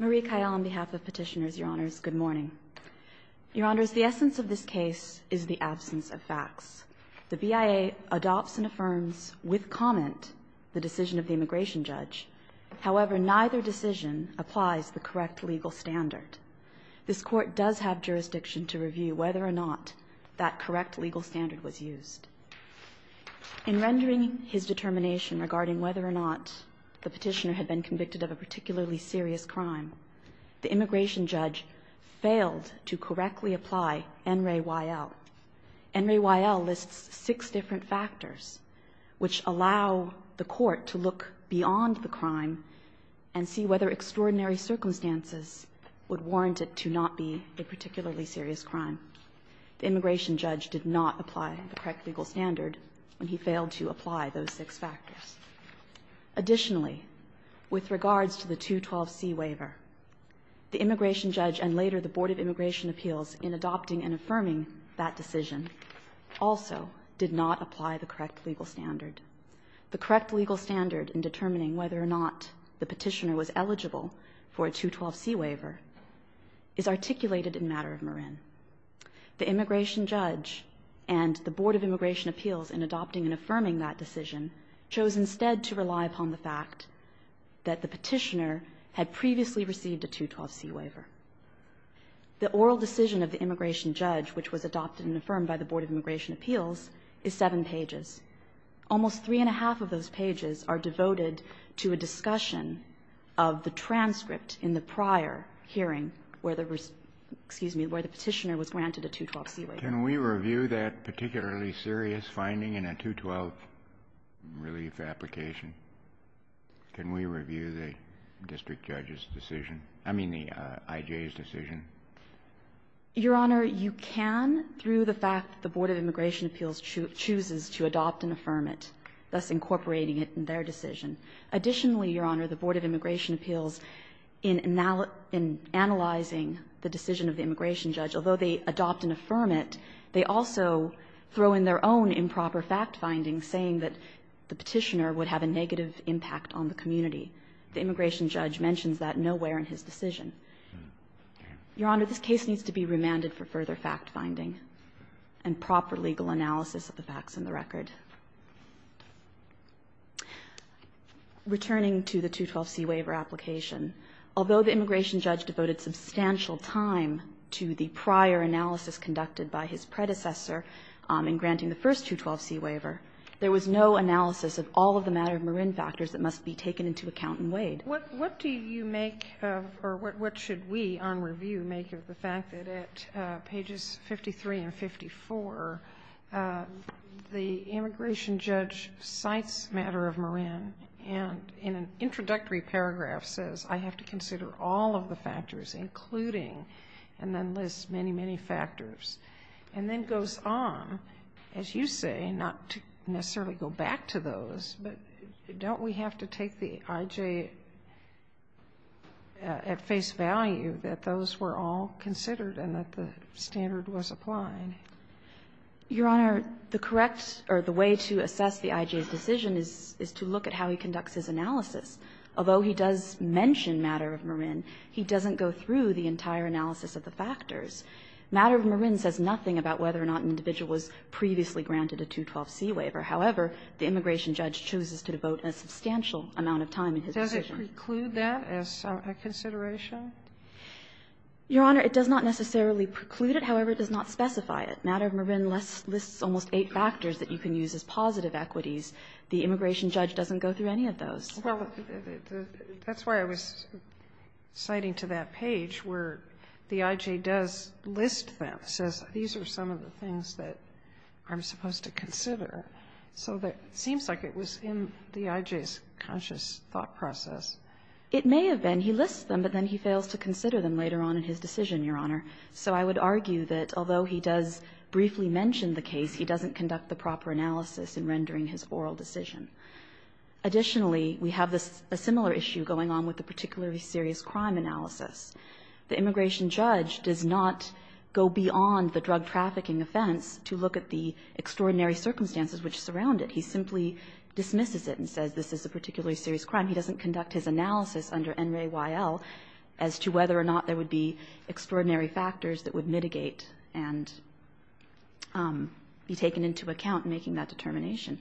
on behalf of petitioners, Your Honors, good morning. Your Honors, the essence of this case is the absence of facts. The BIA adopts and affirms with comment the decision of the immigration judge. However, neither decision applies the correct legal standard. This court does have jurisdiction to review whether or not that correct legal standard was used. In rendering his determination regarding whether or not the petitioner had been convicted of a particularly serious crime, the immigration judge failed to correctly apply NRAYL. NRAYL lists six different factors which allow the court to look beyond the crime and see whether extraordinary circumstances would warrant it to not be a particularly serious crime. The immigration judge did not apply the correct legal standard when he failed to apply those six factors. Additionally, with regards to the 212C waiver, the immigration judge and later the Board of Immigration Appeals in adopting and affirming that decision also did not apply the correct legal standard. The correct legal standard in determining whether or not the petitioner was eligible for a 212C waiver is articulated in matter of Marin. The immigration judge and the Board of Immigration Appeals in adopting and affirming that decision chose instead to rely upon the fact that the petitioner had previously received a 212C waiver. The oral decision of the immigration judge, which was adopted and affirmed by the Board of Immigration Appeals, is seven pages. Almost three and a half of those pages are devoted to a discussion of the transcript in the prior hearing where the petitioner was granted a 212C waiver. Kennedy, can we review that particularly serious finding in a 212 relief application? Can we review the district judge's decision? I mean, the I.J.'s decision? Your Honor, you can through the fact that the Board of Immigration Appeals chooses to adopt and affirm it, thus incorporating it in their decision. Additionally, Your Honor, the Board of Immigration Appeals, in analyzing the decision of the immigration judge, although they adopt and affirm it, they also throw in their own improper fact-finding saying that the petitioner would have a negative impact on the community. The immigration judge mentions that nowhere in his decision. Your Honor, this case needs to be remanded for further fact-finding and proper legal analysis of the facts in the record. Returning to the 212C waiver application, although the immigration judge devoted substantial time to the prior analysis conducted by his predecessor in granting the first 212C waiver, there was no analysis of all of the matter of Marin factors that must be taken into account in Wade. What do you make of or what should we on review make of the fact that at pages 53 and 54, the immigration judge cites matter of Marin and in an introductory paragraph says, I have to consider all of the factors, including, and then lists many, many factors, and then goes on, as you say, not to necessarily go back to those, but don't we have to take the I.J. at face value that those were all considered and that the standard was applied? Your Honor, the correct or the way to assess the I.J.'s decision is to look at how he conducts his analysis. Although he does mention matter of Marin, he doesn't go through the entire analysis of the factors. Matter of Marin says nothing about whether or not an individual was previously granted a 212C waiver. However, the immigration judge chooses to devote a substantial amount of time in his decision. Sotomayor, does it preclude that as a consideration? Your Honor, it does not necessarily preclude it. However, it does not specify it. Matter of Marin lists almost eight factors that you can use as positive equities. The immigration judge doesn't go through any of those. Well, that's why I was citing to that page where the I.J. does list them, says these are some of the things that I'm supposed to consider. So it seems like it was in the I.J.'s conscious thought process. It may have been. He lists them, but then he fails to consider them later on in his decision, Your Honor. So I would argue that although he does briefly mention the case, he doesn't conduct the proper analysis in rendering his oral decision. Additionally, we have a similar issue going on with the particularly serious crime analysis. The immigration judge does not go beyond the drug trafficking offense to look at the extraordinary circumstances which surround it. He simply dismisses it and says this is a particularly serious crime. He doesn't conduct his analysis under N. Ray Y.L. as to whether or not there would be extraordinary factors that would mitigate and be taken into account in making that determination.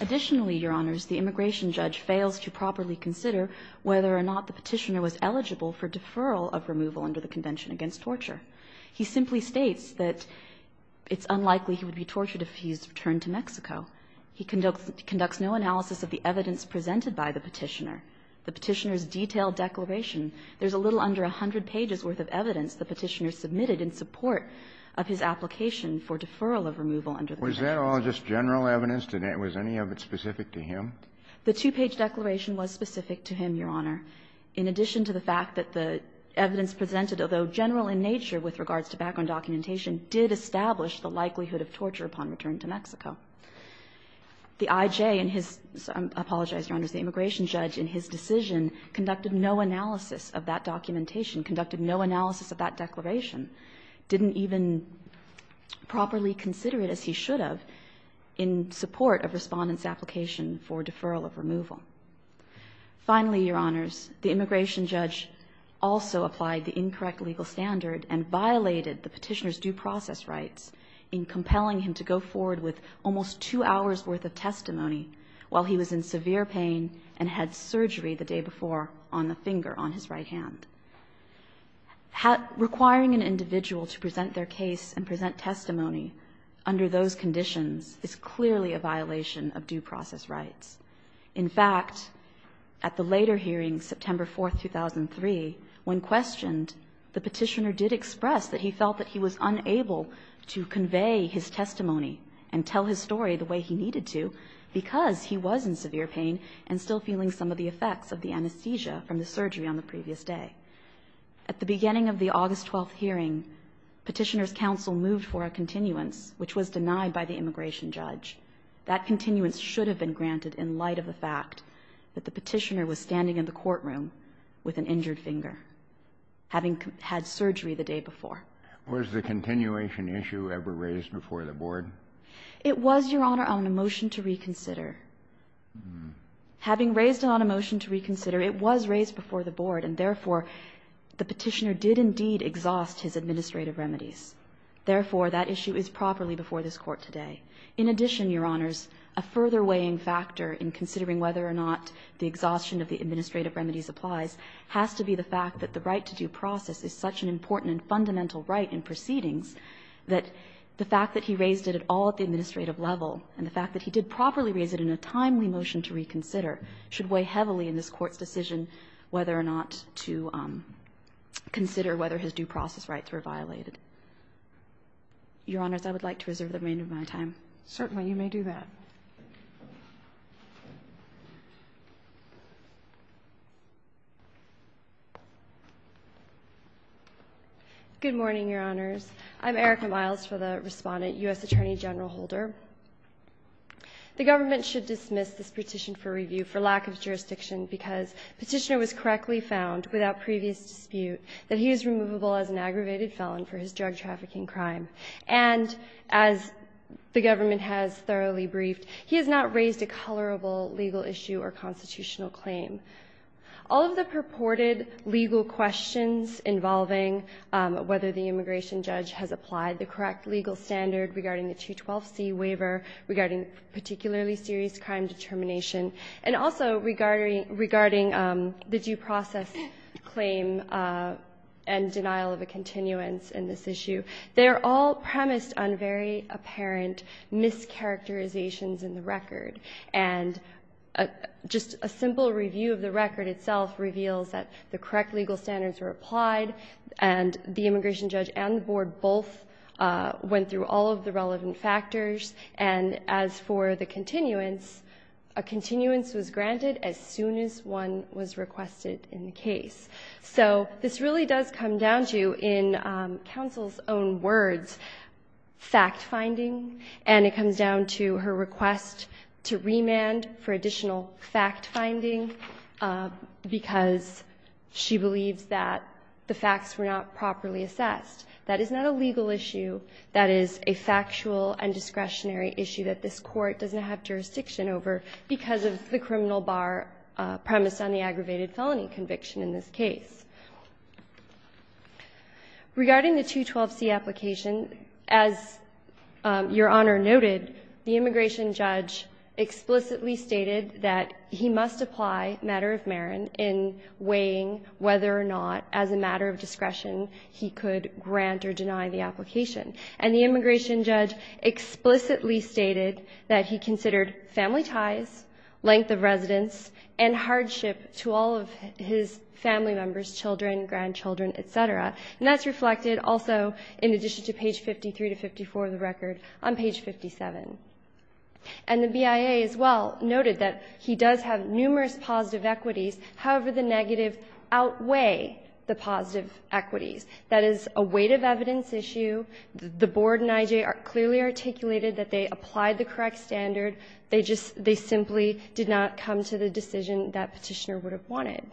Additionally, Your Honors, the immigration judge fails to properly consider whether or not the petitioner was eligible for deferral of removal under the Convention Against Torture. He simply states that it's unlikely he would be tortured if he's returned to Mexico. He conducts no analysis of the evidence presented by the petitioner. The petitioner's detailed declaration, there's a little under 100 pages worth of evidence the petitioner submitted in support of his application for deferral of removal under the Convention. Kennedy. Was that all just general evidence? Was any of it specific to him? The two-page declaration was specific to him, Your Honor, in addition to the fact that the evidence presented, although general in nature with regards to background documentation, did establish the likelihood of torture upon return to Mexico. The I.J. and his — I apologize, Your Honors — the immigration judge in his decision conducted no analysis of that documentation, conducted no analysis of that declaration, didn't even properly consider it as he should have in support of respondent's application for deferral of removal. Finally, Your Honors, the immigration judge also applied the incorrect legal standard and violated the petitioner's due process rights in compelling him to go forward with almost two hours worth of testimony while he was in severe pain and had surgery the day before on the finger on his right hand. Requiring an individual to present their case and present testimony under those conditions is clearly a violation of due process rights. In fact, at the later hearing, September 4, 2003, when questioned, the petitioner did express that he felt that he was unable to convey his testimony and tell his the effects of the anesthesia from the surgery on the previous day. At the beginning of the August 12 hearing, petitioner's counsel moved for a continuance, which was denied by the immigration judge. That continuance should have been granted in light of the fact that the petitioner was standing in the courtroom with an injured finger, having had surgery the day before. Was the continuation issue ever raised before the board? It was, Your Honor, on a motion to reconsider. Having raised it on a motion to reconsider, it was raised before the board, and therefore, the petitioner did indeed exhaust his administrative remedies. Therefore, that issue is properly before this Court today. In addition, Your Honors, a further weighing factor in considering whether or not the exhaustion of the administrative remedies applies has to be the fact that the right to due process is such an important and fundamental right in proceedings that the fact that he raised it at all at the administrative level and the fact that he did properly raise it in a timely motion to reconsider should weigh heavily in this Court's decision whether or not to consider whether his due process rights were violated. Your Honors, I would like to reserve the remainder of my time. Certainly, you may do that. Good morning, Your Honors. I'm Erica Miles for the respondent, U.S. Attorney General Holder. The government should dismiss this petition for review for lack of jurisdiction because petitioner was correctly found without previous dispute that he is removable as an aggravated felon for his drug trafficking crime. And as the government has thoroughly briefed, he has not raised a colorable legal issue or constitutional claim. All of the purported legal questions involving whether the immigration judge has particularly serious crime determination and also regarding the due process claim and denial of a continuance in this issue, they are all premised on very apparent mischaracterizations in the record. And just a simple review of the record itself reveals that the correct legal standards were applied and the immigration judge and the board both went through all of the relevant factors. And as for the continuance, a continuance was granted as soon as one was requested in the case. So this really does come down to, in counsel's own words, fact-finding, and it comes down to her request to remand for additional fact-finding because she believes that the facts were not properly assessed. That is not a legal issue. That is a factual and discretionary issue that this Court doesn't have jurisdiction over because of the criminal bar premised on the aggravated felony conviction in this case. Regarding the 212c application, as Your Honor noted, the immigration judge explicitly stated that he must apply matter of Marin in weighing whether or not as a matter of discretion he could grant or deny the application. And the immigration judge explicitly stated that he considered family ties, length of residence, and hardship to all of his family members, children, grandchildren, et cetera. And that's reflected also in addition to page 53 to 54 of the record on page 57. And the BIA as well noted that he does have numerous positive equities. However, the negative outweigh the positive equities. That is a weight of evidence issue. The Board and IJ clearly articulated that they applied the correct standard. They just they simply did not come to the decision that Petitioner would have wanted.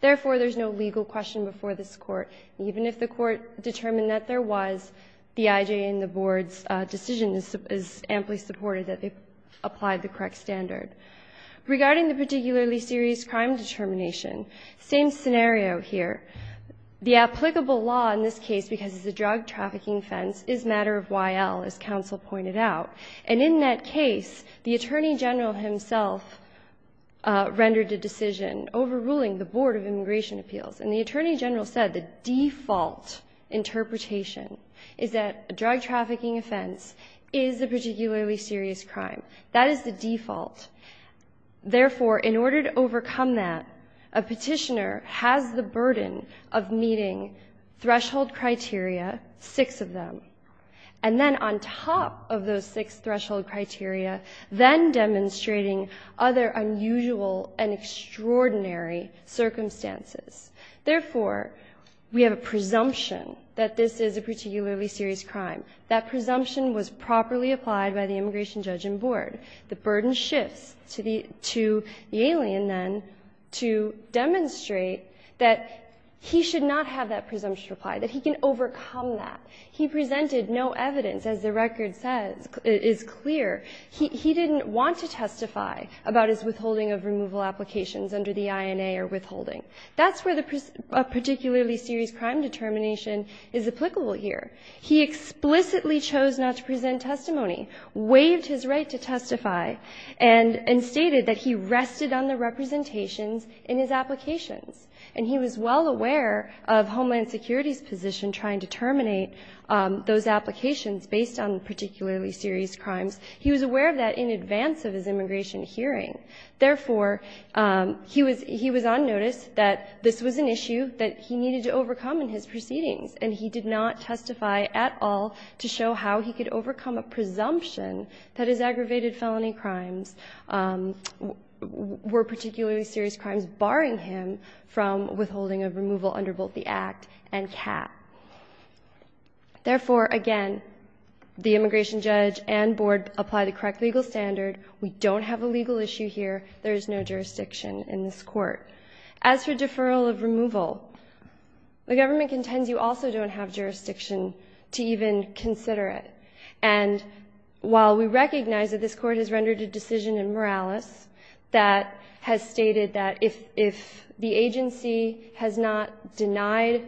Therefore, there's no legal question before this Court. Even if the Court determined that there was, the IJ and the Board's decision is amply supported that they applied the correct standard. Regarding the particularly serious crime determination, same scenario here. The applicable law in this case, because it's a drug trafficking offense, is matter of YL, as counsel pointed out. And in that case, the Attorney General himself rendered a decision overruling the Board of Immigration Appeals. And the Attorney General said the default interpretation is that a drug trafficking offense is a particularly serious crime. That is the default. Therefore, in order to overcome that, a petitioner has the burden of meeting threshold criteria, six of them, and then on top of those six threshold criteria, then demonstrating other unusual and extraordinary circumstances. Therefore, we have a presumption that this is a particularly serious crime. That presumption was properly applied by the immigration judge and board. The burden shifts to the alien, then, to demonstrate that he should not have that presumption applied, that he can overcome that. He presented no evidence, as the record says, is clear. He didn't want to testify about his withholding of removal applications under the INA or withholding. That's where the particularly serious crime determination is applicable here. He explicitly chose not to present testimony. Waived his right to testify and stated that he rested on the representations in his applications. And he was well aware of Homeland Security's position trying to terminate those applications based on particularly serious crimes. He was aware of that in advance of his immigration hearing. Therefore, he was on notice that this was an issue that he needed to overcome in his proceedings, and he did not testify at all to show how he could overcome a presumption that his aggravated felony crimes were particularly serious crimes barring him from withholding of removal under both the Act and CAP. Therefore, again, the immigration judge and board apply the correct legal standard. We don't have a legal issue here. There is no jurisdiction in this court. As for deferral of removal, the government contends you also don't have jurisdiction to even consider it. And while we recognize that this Court has rendered a decision in Morales that has stated that if the agency has not denied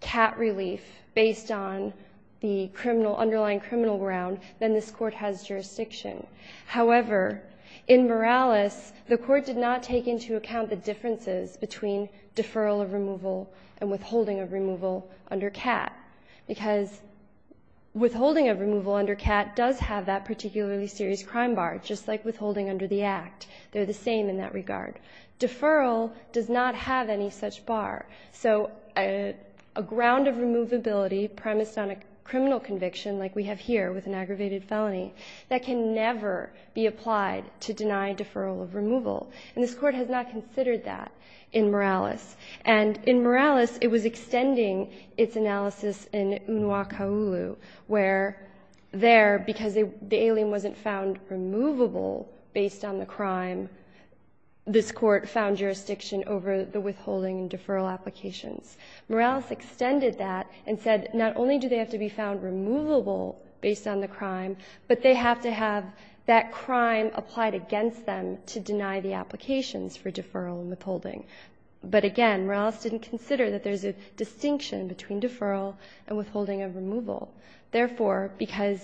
CAT relief based on the criminal, underlying criminal ground, then this Court has jurisdiction. However, in Morales, the Court did not take into account the differences between deferral of removal and withholding of removal under CAT, because withholding of removal under CAT does have that particularly serious crime bar, just like withholding under the Act. They're the same in that regard. Deferral does not have any such bar. So a ground of removability premised on a criminal conviction, like we have here with an aggravated felony, that can never be applied to deny deferral of removal. And this Court has not considered that in Morales. And in Morales, it was extending its analysis in Unwa Kaulu, where there, because the alien wasn't found removable based on the crime, this Court found jurisdiction over the withholding and deferral applications. Morales extended that and said not only do they have to be found removable based on the crime, but they have to have that crime applied against them to deny the applications for deferral and withholding. But again, Morales didn't consider that there's a distinction between deferral and withholding of removal. Therefore, because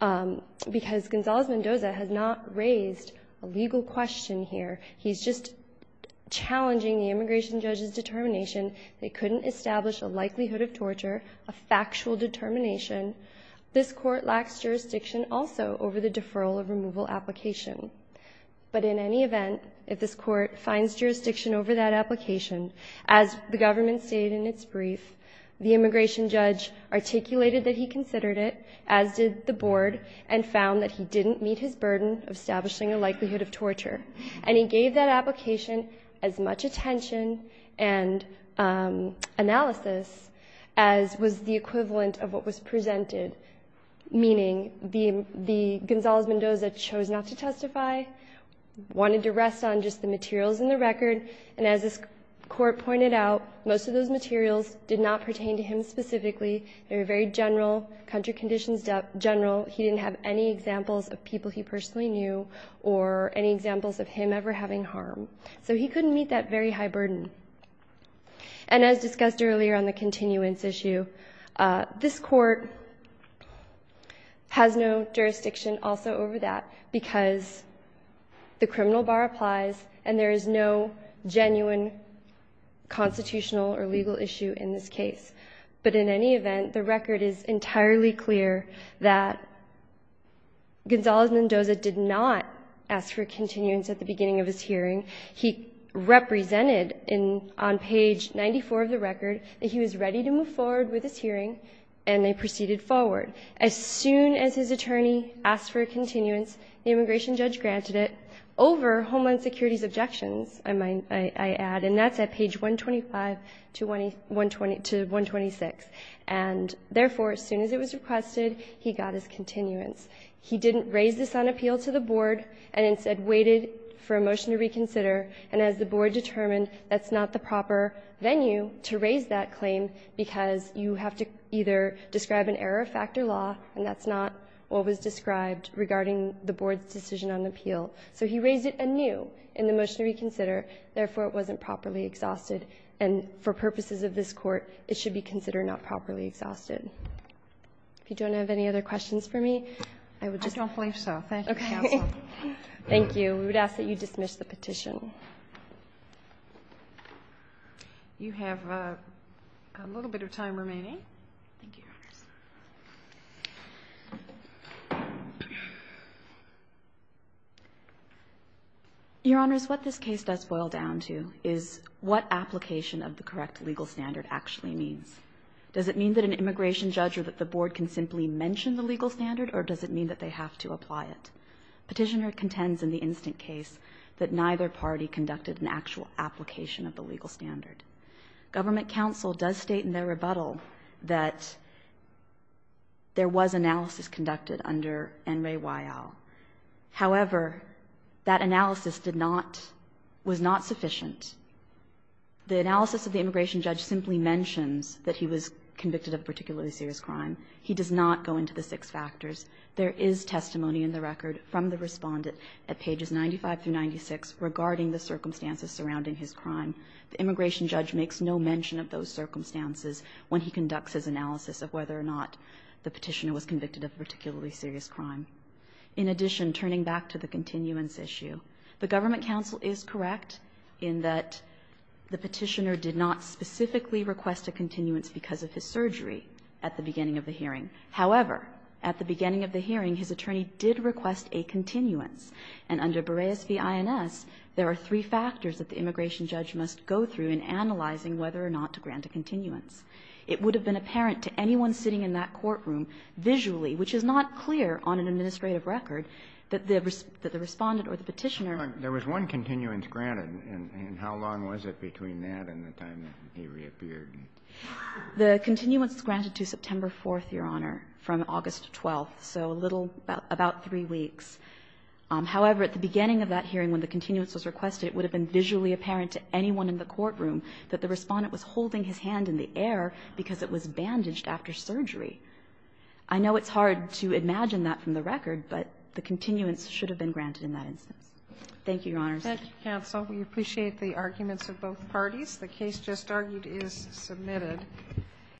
Gonzalez-Mendoza has not raised a legal question here, he's just challenging the immigration judge's determination. They couldn't establish a likelihood of torture, a factual determination. This Court lacks jurisdiction also over the deferral of removal application. But in any event, if this Court finds jurisdiction over that application, as the government stated in its brief, the immigration judge articulated that he considered it, as did the Board, and found that he didn't meet his burden of establishing a likelihood of torture. And he gave that application as much attention and analysis as was the equivalent of what was presented, meaning the Gonzalez-Mendoza chose not to testify, wanted to rest on just the materials in the record. And as this Court pointed out, most of those materials did not pertain to him specifically. They were very general, country conditions general. He didn't have any examples of people he personally knew or any examples of him ever having harm. So he couldn't meet that very high burden. And as discussed earlier on the continuance issue, this Court has no jurisdiction also over that because the criminal bar applies and there is no genuine constitutional or legal issue in this case. But in any event, the record is entirely clear that Gonzalez-Mendoza did not ask for continuance at the beginning of his hearing. He represented on page 94 of the record that he was ready to move forward with this hearing, and they proceeded forward. As soon as his attorney asked for a continuance, the immigration judge granted it over Homeland Security's objections, I add, and that's at page 125 to 126. And therefore, as soon as it was requested, he got his continuance. He didn't raise this on appeal to the Board and instead waited for a motion to reconsider. And as the Board determined, that's not the proper venue to raise that claim because you have to either describe an error of factor law, and that's not what was described regarding the Board's decision on appeal. So he raised it anew in the motion to reconsider. Therefore, it wasn't properly exhausted. And for purposes of this Court, it should be considered not properly exhausted. If you don't have any other questions for me, I would just ask that you dismiss the petition. You have a little bit of time remaining. Your Honors, what this case does boil down to is what application of the correct legal standard actually means. or does it mean that an immigrant has a right to stay in the U.S. or that the Board can simply mention the legal standard, or does it mean that they have to apply it? Petitioner contends in the instant case that neither party conducted an actual application of the legal standard. Government counsel does state in their rebuttal that there was analysis conducted under N. Ray Weil. However, that analysis did not, was not sufficient. The analysis of the immigration judge simply mentions that he was convicted of particular serious crime. He does not go into the six factors. There is testimony in the record from the respondent at pages 95 through 96 regarding the circumstances surrounding his crime. The immigration judge makes no mention of those circumstances when he conducts his analysis of whether or not the petitioner was convicted of particularly serious crime. In addition, turning back to the continuance issue, the government counsel is correct in that the petitioner did not specifically request a continuance because of his involvement at the beginning of the hearing. However, at the beginning of the hearing, his attorney did request a continuance. And under Berreaz v. INS, there are three factors that the immigration judge must go through in analyzing whether or not to grant a continuance. It would have been apparent to anyone sitting in that courtroom visually, which is not clear on an administrative record, that the respondent or the petitioner ---- Kennedy, there was one continuance granted. And how long was it between that and the time that he reappeared? The continuance is granted to September 4th, Your Honor, from August 12th. So a little about three weeks. However, at the beginning of that hearing, when the continuance was requested, it would have been visually apparent to anyone in the courtroom that the respondent was holding his hand in the air because it was bandaged after surgery. I know it's hard to imagine that from the record, but the continuance should have been granted in that instance. Thank you, Your Honors. Kagan. Counsel, we appreciate the arguments of both parties. The case just argued is submitted.